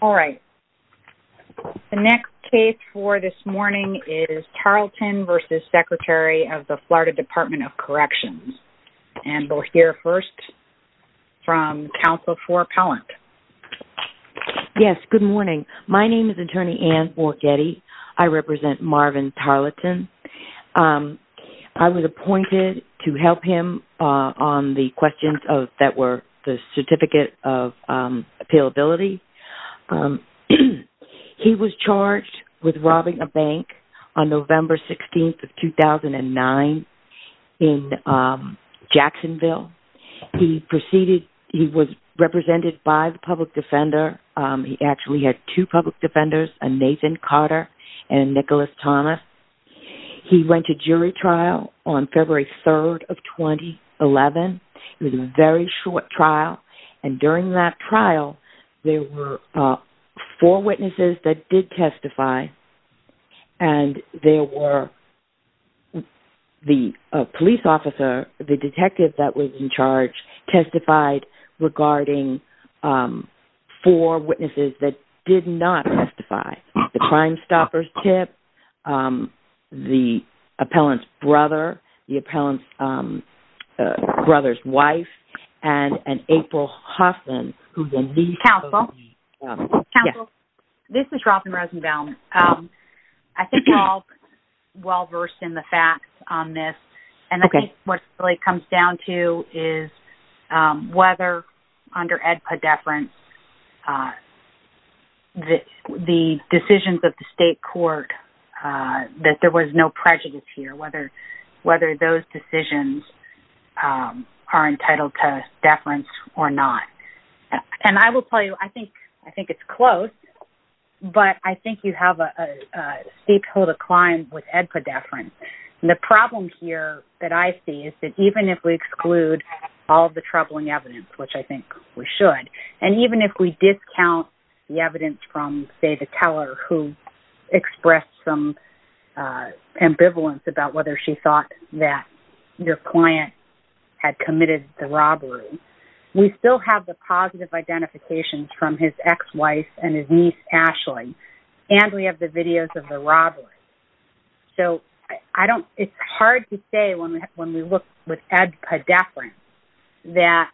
All right. The next case for this morning is Tarleton v. Secretary of the Florida Department of Corrections. And we'll hear first from Counsel for Appellant. Yes, good morning. My name is Attorney Ann Morgetti. I represent Marvin Tarleton. I was appointed to help him on the questions that were the certificate of appealability. He was charged with robbing a bank on November 16, 2009 in Jacksonville. He was represented by the public defender. He actually had two public defenders, Nathan Carter and Nicholas Thomas. He went to jury trial on February 3, 2011. It was a very short trial. And during that trial, there were four witnesses that did testify. And there were the police officer, the detective that was in charge, testified regarding four witnesses that did not testify. The crime stopper's tip, the appellant's brother, the appellant's brother's wife, and April Hoffman, who's a niece of the... Counsel, this is Robin Rosenbaum. I think you're all well-versed in the facts on this. And I think what it really comes down to is whether under AEDPA deference, the decisions of the state court, that there was no prejudice here, whether those decisions are entitled to deference or not. And I will tell you, I think it's close, but I think you have a steep hill to climb with AEDPA deference. And the problem here that I see is that even if we exclude all the troubling evidence, which I think we should, and even if we discount the evidence from, say, the teller who expressed some ambivalence about whether she thought that your client had committed the robbery, we still have the positive identifications from his ex-wife and his niece, Ashley, and we have the videos of the robbery. So it's hard to say when we look with AEDPA deference that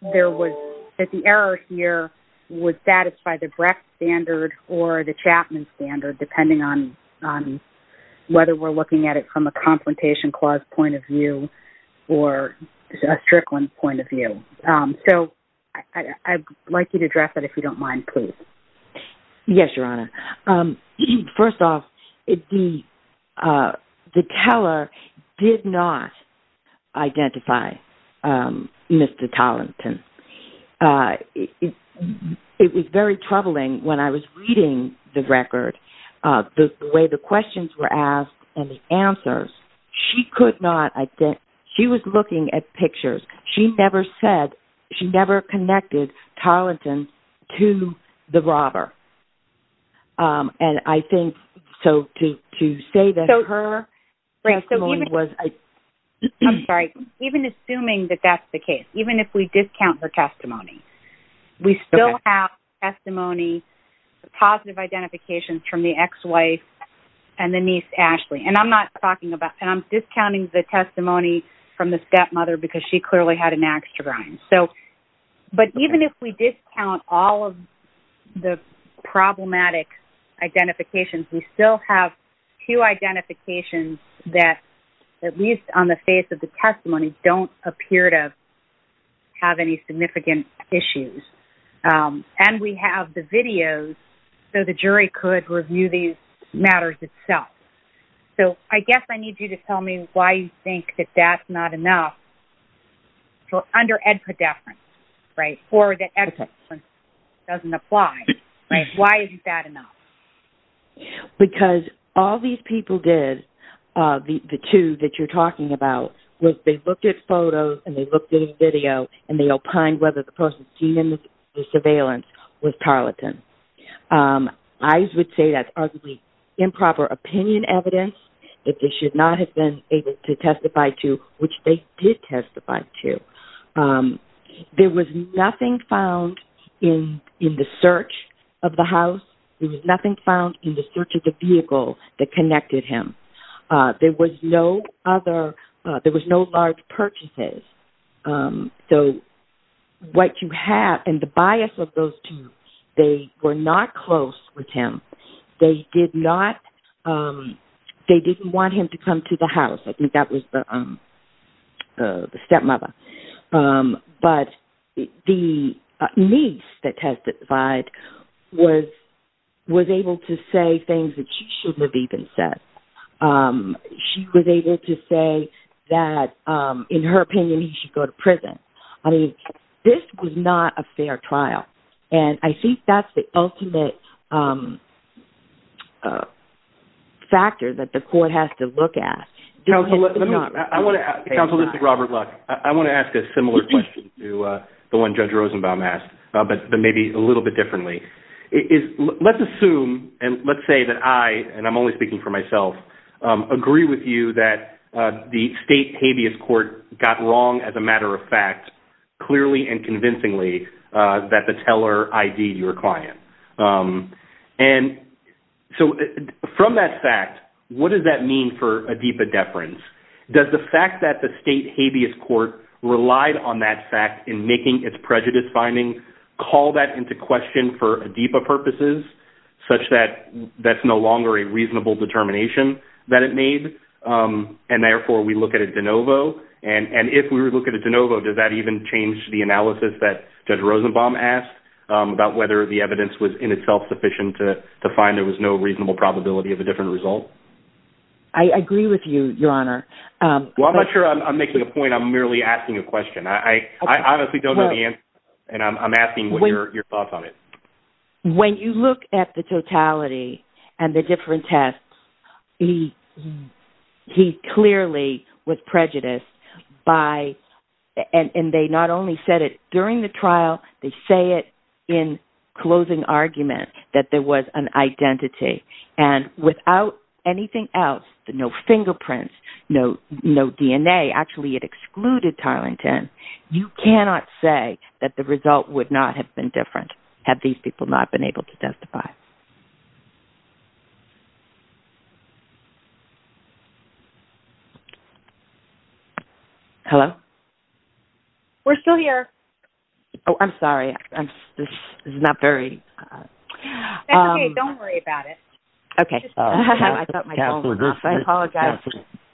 the error here would satisfy the Brecht standard or the Chapman standard, depending on whether we're looking at it from a confrontation clause point of view or a Strickland point of view. So I'd like you to address that, if you don't mind, please. Yes, Your Honor. First off, the teller did not identify Mr. Tollington. It was very troubling when I was reading the record, the way the questions were asked and the answers. She was looking at pictures. She never connected Tollington to the robber. So to say that her testimony was... I'm sorry. Even assuming that that's the case, even if we discount her testimony, we still have testimony, positive identifications from the ex-wife and the niece, Ashley. And I'm discounting the testimony from the stepmother because she clearly had an axe to grind. But even if we discount all of the problematic identifications, we still have two identifications that, at least on the face of the testimony, don't appear to have any significant issues. And we have the videos so the jury could review these matters itself. So I guess I need you to tell me why you think that that's not enough under ed-predeference, right, or that ed-predeference doesn't apply. Why isn't that enough? Because all these people did, the two that you're talking about, was they looked at photos and they looked at a video and they opined whether the person seen in the surveillance was Tollington. I would say that's arguably improper opinion evidence that they should not have been able to testify to, which they did testify to. There was nothing found in the search of the house. There was nothing found in the search of the vehicle that connected him. There was no other, there was no large purchases. So what you have, and the bias of those two, they were not close with him. They did not, they didn't want him to come to the house. I think that was the stepmother. But the niece that testified was able to say things that she shouldn't have even said. She was able to say that, in her opinion, he should go to prison. I mean, this was not a fair trial, and I think that's the ultimate factor that the court has to look at. Counsel, this is Robert Luck. I want to ask a similar question to the one Judge Rosenbaum asked, but maybe a little bit differently. Let's assume, and let's say that I, and I'm only speaking for myself, agree with you that the state habeas court got wrong, as a matter of fact, clearly and convincingly, that the teller ID'd your client. And so from that fact, what does that mean for ADIPA deference? Does the fact that the state habeas court relied on that fact in making its prejudice finding call that into question for ADIPA purposes, such that that's no longer a reasonable determination that it made, and therefore we look at it de novo? And if we were to look at it de novo, does that even change the analysis that Judge Rosenbaum asked about whether the evidence was in itself sufficient to find there was no reasonable probability of a different result? I agree with you, Your Honor. Well, I'm not sure I'm making a point. I'm merely asking a question. I honestly don't know the answer, and I'm asking your thoughts on it. When you look at the totality and the different tests, he clearly was prejudiced by, and they not only said it during the trial, they say it in closing argument that there was an identity. And without anything else, no fingerprints, no DNA, actually it excluded Tarlington. You cannot say that the result would not have been different had these people not been able to testify. Hello? We're still here. Oh, I'm sorry. This is not very... That's okay. Don't worry about it. Okay. I thought my phone was off. I apologize.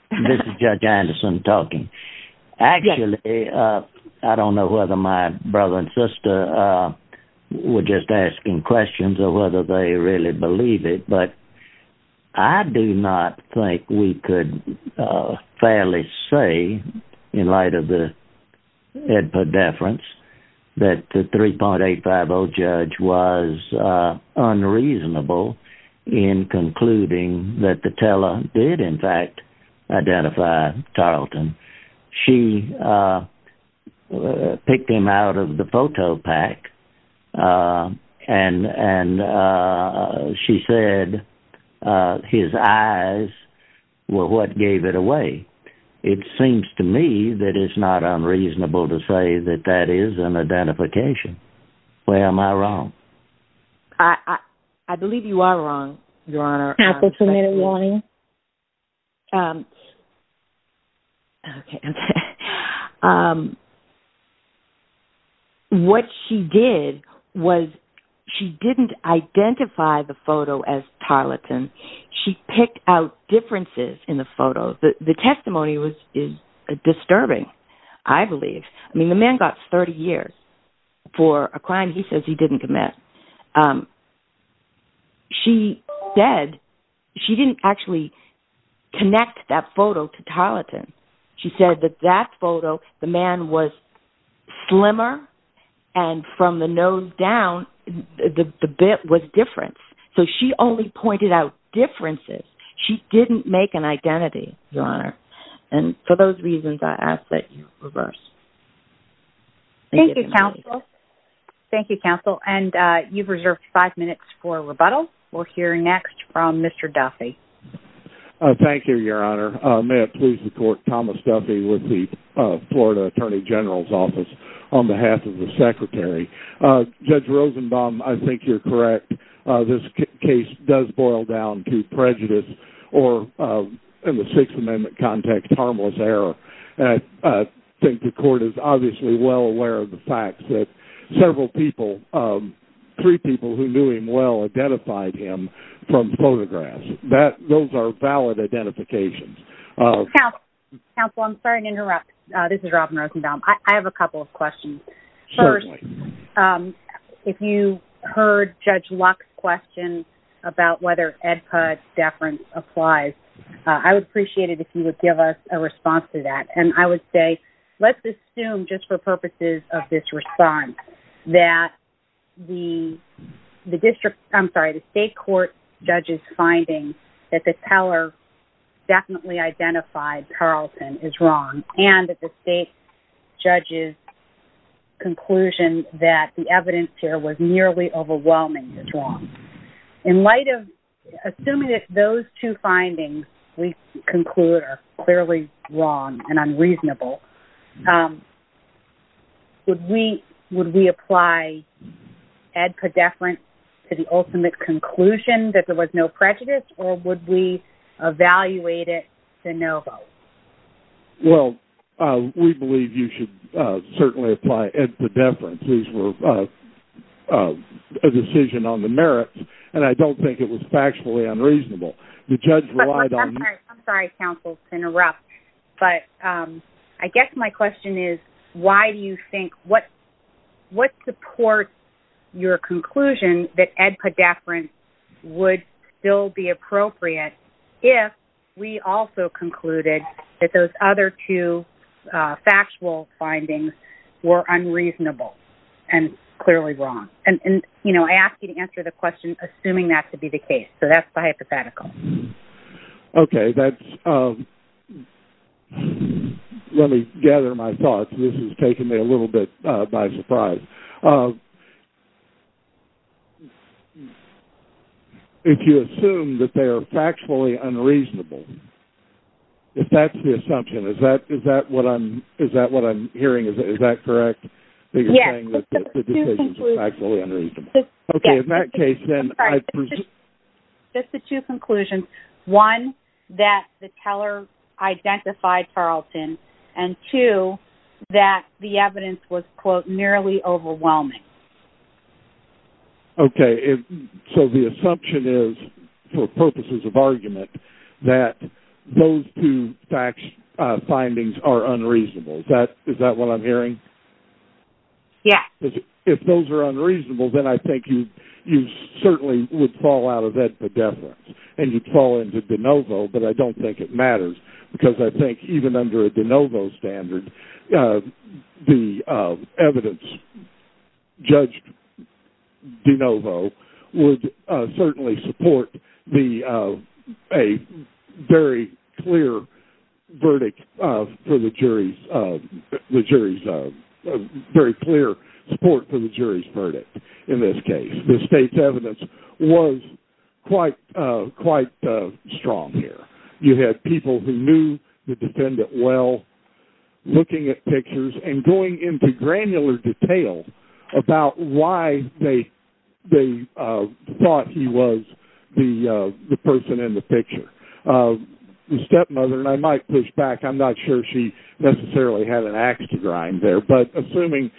This is Judge Anderson talking. Yes. Actually, I don't know whether my brother and sister were just asking questions or whether they really believe it, but I do not think we could fairly say, in light of the ed per deference, that the 3.850 judge was unreasonable in concluding that the teller did, in fact, identify Tarleton. She picked him out of the photo pack, and she said his eyes were what gave it away. It seems to me that it's not unreasonable to say that that is an identification. Where am I wrong? I believe you are wrong, Your Honor. Okay. What she did was she didn't identify the photo as Tarleton. She picked out differences in the photo. The testimony is disturbing, I believe. I mean, the man got 30 years for a crime he says he didn't commit. She said she didn't actually connect that photo to Tarleton. She said that that photo, the man was slimmer, and from the nose down, the bit was different. So she only pointed out differences. She didn't make an identity, Your Honor. And for those reasons, I ask that you reverse. Thank you, counsel. Thank you, counsel. And you've reserved five minutes for rebuttal. We'll hear next from Mr. Duffy. Thank you, Your Honor. May it please the Court, Thomas Duffy with the Florida Attorney General's Office on behalf of the Secretary. Judge Rosenbaum, I think you're correct. This case does boil down to prejudice or, in the Sixth Amendment context, harmless error. I think the Court is obviously well aware of the fact that several people, three people who knew him well identified him from photographs. Those are valid identifications. Counsel, I'm sorry to interrupt. This is Robin Rosenbaum. I have a couple of questions. Certainly. If you heard Judge Luck's question about whether Ed Pudge's deference applies, I would appreciate it if you would give us a response to that. Let's assume, just for purposes of this response, that the state court judge's finding that the teller definitely identified Carlton is wrong and that the state judge's conclusion that the evidence here was nearly overwhelming is wrong. In light of assuming that those two findings we conclude are clearly wrong and unreasonable, would we apply Ed Pudge's deference to the ultimate conclusion that there was no prejudice, or would we evaluate it to no vote? Well, we believe you should certainly apply Ed Pudge's deference. These were a decision on the merits, and I don't think it was factually unreasonable. The judge relied on... I'm sorry. I'm sorry, Counsel, to interrupt. I guess my question is, why do you think... What supports your conclusion that Ed Pudge's deference would still be appropriate if we also concluded that those other two factual findings were unreasonable and clearly wrong? I ask you to answer the question assuming that to be the case, so that's the hypothetical. Okay. Let me gather my thoughts. This is taking me a little bit by surprise. If you assume that they are factually unreasonable, if that's the assumption, is that what I'm hearing? Is that correct, that you're saying that the decisions are factually unreasonable? Yes. Okay. Okay. In that case, then I presume... Just the two conclusions. One, that the teller identified Tarleton, and two, that the evidence was, quote, nearly overwhelming. Okay. So the assumption is, for purposes of argument, that those two facts findings are unreasonable. Is that what I'm hearing? Yes. If those are unreasonable, then I think you certainly would fall out of Ed Pudge's deference, and you'd fall into de novo, but I don't think it matters, because I think even under a de novo standard, the evidence judged de novo would certainly support a very clear support for the jury's verdict in this case. The state's evidence was quite strong here. You had people who knew the defendant well, looking at pictures and going into granular detail about why they thought he was the person in the picture. The stepmother, and I might push back, I'm not sure she necessarily had an ax to grind there, but assuming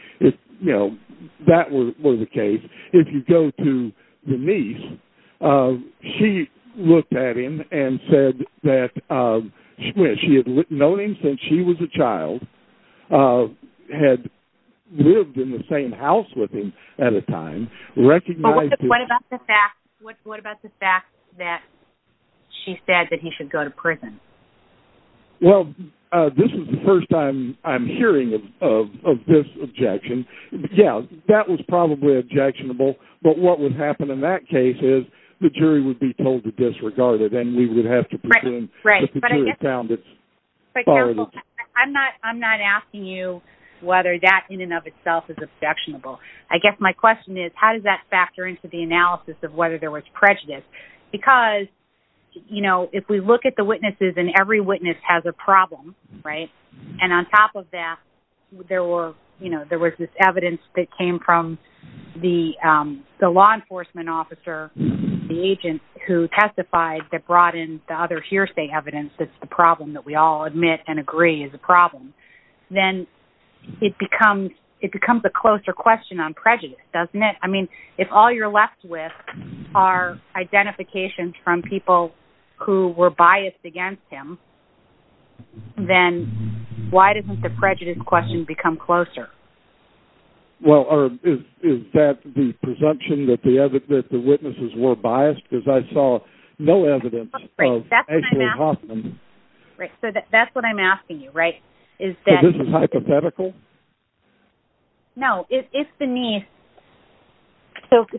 that were the case, if you go to Denise, she looked at him and said that she had known him since she was a child, had lived in the same house with him at a time, recognized... But what about the fact that she said that he should go to prison? Well, this is the first time I'm hearing of this objection. Yeah, that was probably objectionable, but what would happen in that case is the jury would be told to disregard it, and we would have to presume that the jury found it. But counsel, I'm not asking you whether that in and of itself is objectionable. I guess my question is, how does that factor into the analysis of whether there was prejudice? Because, you know, if we look at the witnesses, and every witness has a problem, right? And on top of that, there was this evidence that came from the law enforcement officer, the agent who testified that brought in the other hearsay evidence that the problem that we all admit and agree is a problem. Then it becomes a closer question on prejudice, doesn't it? I mean, if all you're left with are identifications from people who were biased against him, then why doesn't the prejudice question become closer? Well, is that the presumption that the witnesses were biased? Because I saw no evidence of Ashley Hoffman. Right, so that's what I'm asking you, right? So this is hypothetical? No, if the niece...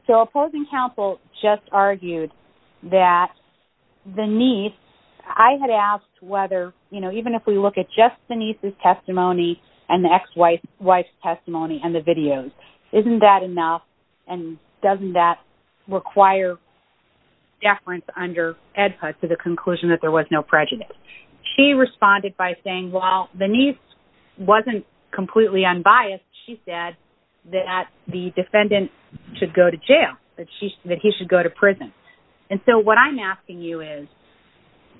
So opposing counsel just argued that the niece... I had asked whether, you know, even if we look at just the niece's testimony and the ex-wife's testimony and the videos, isn't that enough? And doesn't that require deference under AEDPA to the conclusion that there was no prejudice? She responded by saying, while the niece wasn't completely unbiased, she said that the defendant should go to jail, that he should go to prison. And so what I'm asking you is,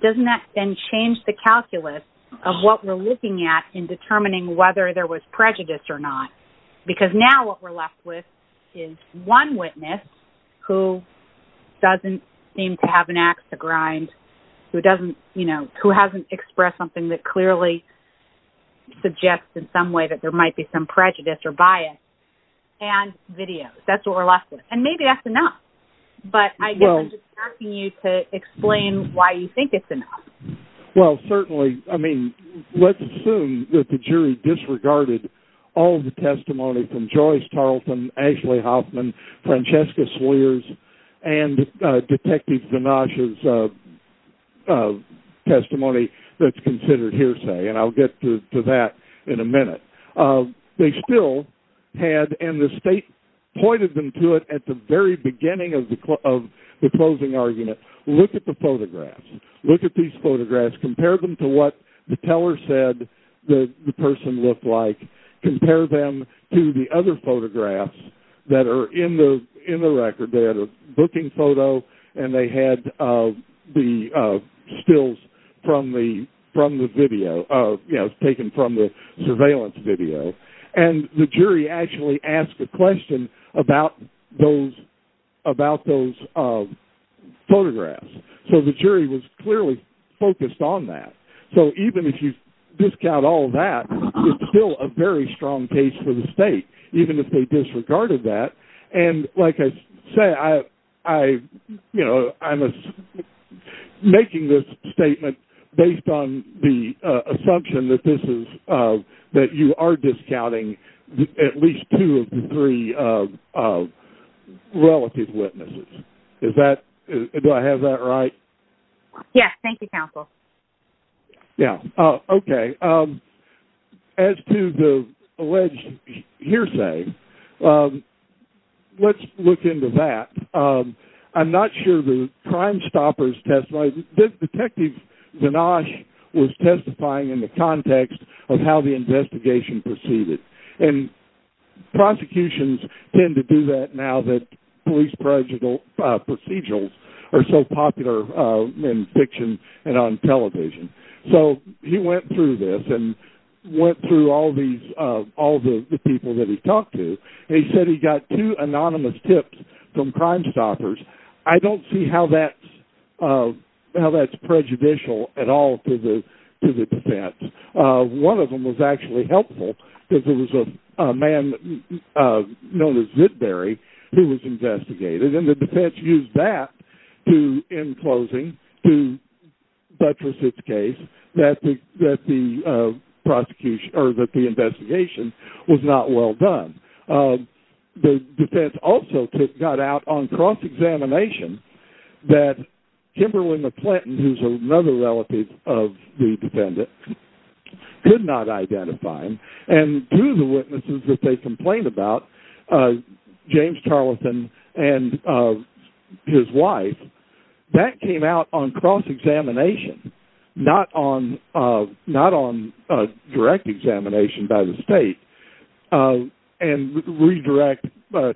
doesn't that then change the calculus of what we're looking at in determining whether there was prejudice or not? Because now what we're left with is one witness who doesn't seem to have an axe to grind, who hasn't expressed something that clearly suggests in some way that there might be some prejudice or bias, and videos. That's what we're left with. And maybe that's enough. But I guess I'm just asking you to explain why you think it's enough. Well, certainly, I mean, let's assume that the jury disregarded all the testimony from Joyce Tarleton, Ashley Hoffman, Francesca Sweers, and Detective Ganache's testimony that's considered hearsay, and I'll get to that in a minute. They still had, and the state pointed them to it at the very beginning of the closing argument, look at the photographs, look at these photographs, compare them to what the teller said the person looked like, compare them to the other photographs that are in the record. They had a booking photo, and they had the stills from the surveillance video. And the jury actually asked a question about those photographs. So the jury was clearly focused on that. So even if you discount all that, it's still a very strong case for the state, even if they disregarded that. And like I said, I'm making this statement based on the assumption that you are discounting at least two of the three relative witnesses. Do I have that right? Yes, thank you, counsel. Yeah, okay. As to the alleged hearsay, let's look into that. I'm not sure the Crime Stoppers testimony, Detective Ganache was testifying in the context of how the investigation proceeded. And prosecutions tend to do that now that police procedurals are so popular in fiction and on television. So he went through this and went through all the people that he talked to, and he said he got two anonymous tips from Crime Stoppers. I don't see how that's prejudicial at all to the defense. One of them was actually helpful, because it was a man known as Whitberry who was investigated. And the defense used that in closing to buttress its case that the investigation was not well done. The defense also got out on cross-examination that Kimberly McClinton, who's another relative of the defendant, could not identify him. And two of the witnesses that they complained about, James Tarleton and his wife, that came out on cross-examination, not on direct examination by the state. And redirect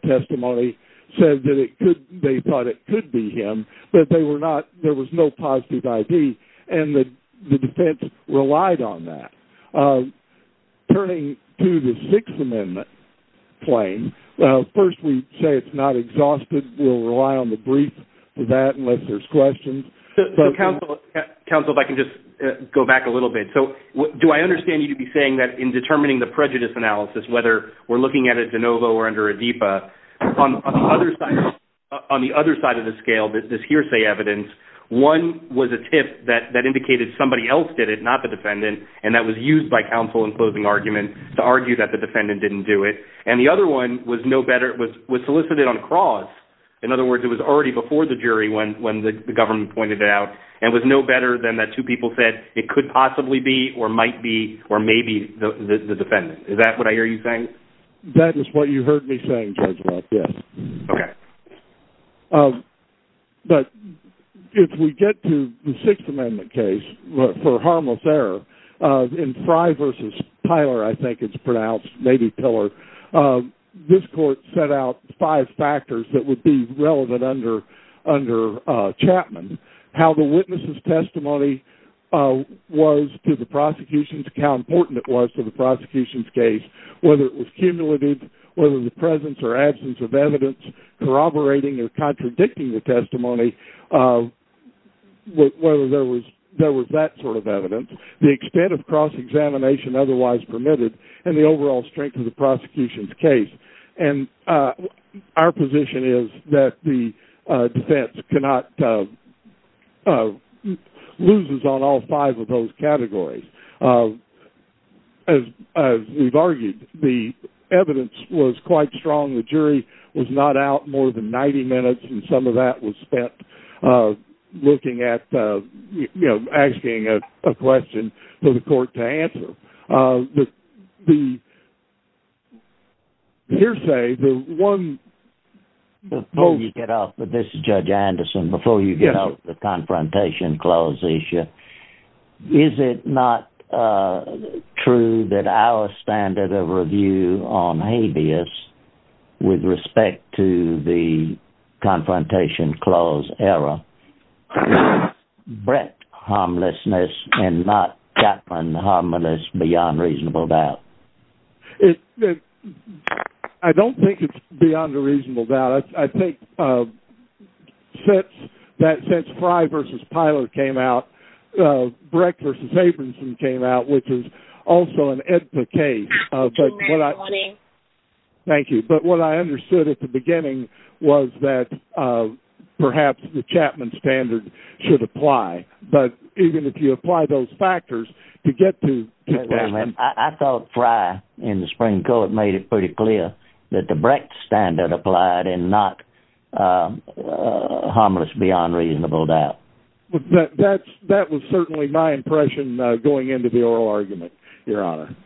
testimony said that they thought it could be him, but there was no positive ID, and the defense relied on that. Turning to the Sixth Amendment claim, first we say it's not exhausted. We'll rely on the brief for that unless there's questions. Counsel, if I can just go back a little bit. So do I understand you to be saying that in determining the prejudice analysis, whether we're looking at it de novo or under a DIPA, on the other side of the scale, this hearsay evidence, one was a tip that indicated somebody else did it, not the defendant, and that was used by counsel in closing argument to argue that the defendant didn't do it. And the other one was solicited on cross. In other words, it was already before the jury when the government pointed it out, and was no better than that two people said it could possibly be or might be or may be the defendant. Is that what I hear you saying? That is what you heard me saying, Judge Lockett. Okay. But if we get to the Sixth Amendment case for harmless error, in Frye v. Pyler, I think it's pronounced, maybe Piller, this court set out five factors that would be relevant under Chapman. How the witness' testimony was to the prosecution, how important it was to the prosecution's case, whether it was cumulative, whether the presence or absence of evidence corroborating or contradicting the testimony, whether there was that sort of evidence, the extent of cross-examination otherwise permitted, and the overall strength of the prosecution's case. And our position is that the defense cannot, loses on all five of those categories. As we've argued, the evidence was quite strong. The jury was not out more than 90 minutes, and some of that was spent looking at, you know, asking a question for the court to answer. The hearsay, the one... Before you get off, but this is Judge Anderson, before you get off the Confrontation Clause issue, is it not true that our standard of review on habeas with respect to the Confrontation Clause error was Brecht harmlessness and not Chapman harmless beyond reasonable doubt? I don't think it's beyond a reasonable doubt. I think since Frye v. Pyler came out, Brecht v. Abramson came out, which is also an edpa case. Good morning. Thank you. But what I understood at the beginning was that perhaps the Chapman standard should apply. But even if you apply those factors to get to Chapman... I thought Frye in the spring court made it pretty clear that the Brecht standard applied and not harmless beyond reasonable doubt. That was certainly my impression going into the oral argument, Your Honor.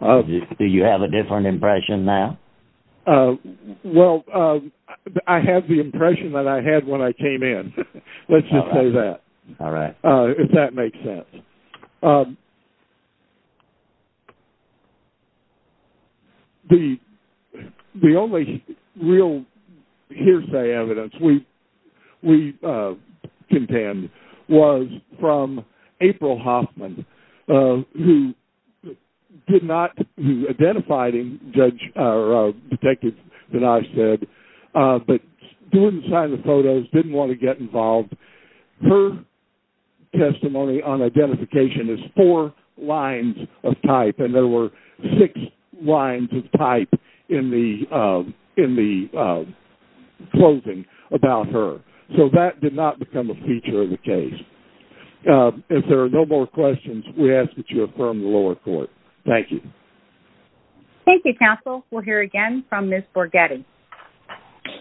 Do you have a different impression now? Well, I have the impression that I had when I came in. Let's just say that. All right. If that makes sense. The only real hearsay evidence we contend was from April Hoffman, who identified a detective that I said, but didn't sign the photos, didn't want to get involved. Her testimony on identification is four lines of type, and there were six lines of type in the closing about her. So that did not become a feature of the case. If there are no more questions, we ask that you affirm the lower court. Thank you. Thank you, counsel. We'll hear again from Ms. Borgetti.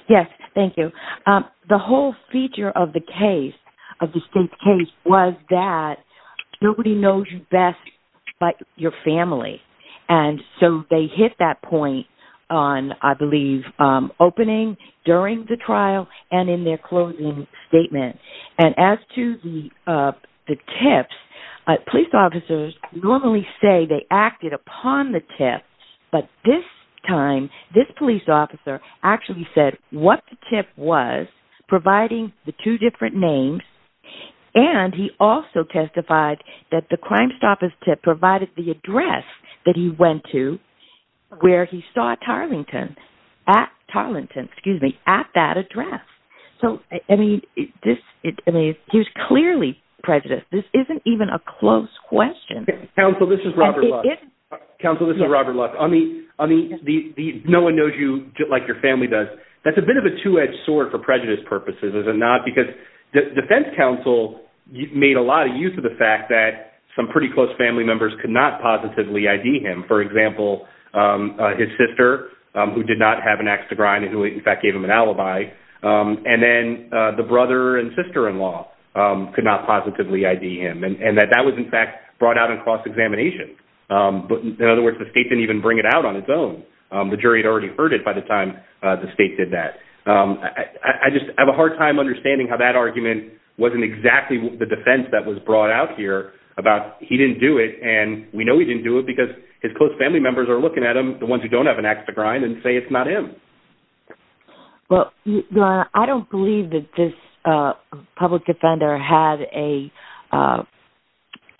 Yes, thank you. The whole feature of the case, of the state's case, was that nobody knows you best but your family. And so they hit that point on, I believe, opening during the trial and in their closing statement. And as to the tips, police officers normally say they acted upon the tips, but this time, this police officer actually said what the tip was, providing the two different names, and he also testified that the crime stopper's tip provided the address that he went to where he saw Tarlington at that address. So, I mean, he was clearly prejudiced. This isn't even a close question. Counsel, this is Robert Lux. Counsel, this is Robert Lux. On the no one knows you like your family does, that's a bit of a two-edged sword for prejudice purposes, is it not? Because defense counsel made a lot of use of the fact that some pretty close family members could not positively ID him. For example, his sister, who did not have an axe to grind and who, in fact, gave him an alibi, and then the brother and sister-in-law could not positively ID him, and that that was, in fact, brought out in cross-examination. But, in other words, the state didn't even bring it out on its own. The jury had already heard it by the time the state did that. I just have a hard time understanding how that argument wasn't exactly the defense that was brought out here about he didn't do it, and we know he didn't do it because his close family members are looking at him, the ones who don't have an axe to grind, and say it's not him. Well, I don't believe that this public defender had a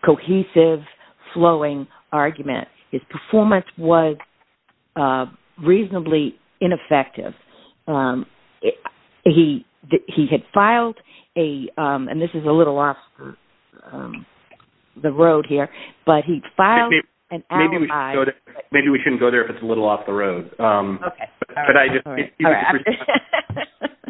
cohesive, flowing argument. His performance was reasonably ineffective. He had filed a, and this is a little off the road here, but he filed an alibi. Maybe we shouldn't go there if it's a little off the road. Okay.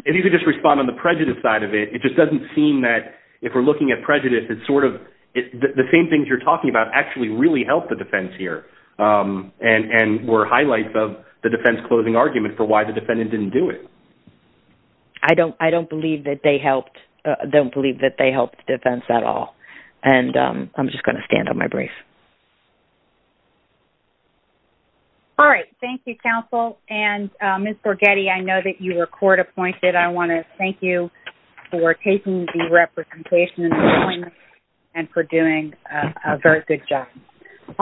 If you could just respond on the prejudice side of it, it just doesn't seem that if we're looking at prejudice, it's sort of the same things you're talking about actually really help the defense here and were highlights of the defense closing argument for why the defendant didn't do it. I don't believe that they helped the defense at all. And I'm just going to stand on my brief. All right. Thank you, counsel. And Ms. Borghetti, I know that you were court appointed. I want to thank you for taking the representation and for doing a very good job. All right.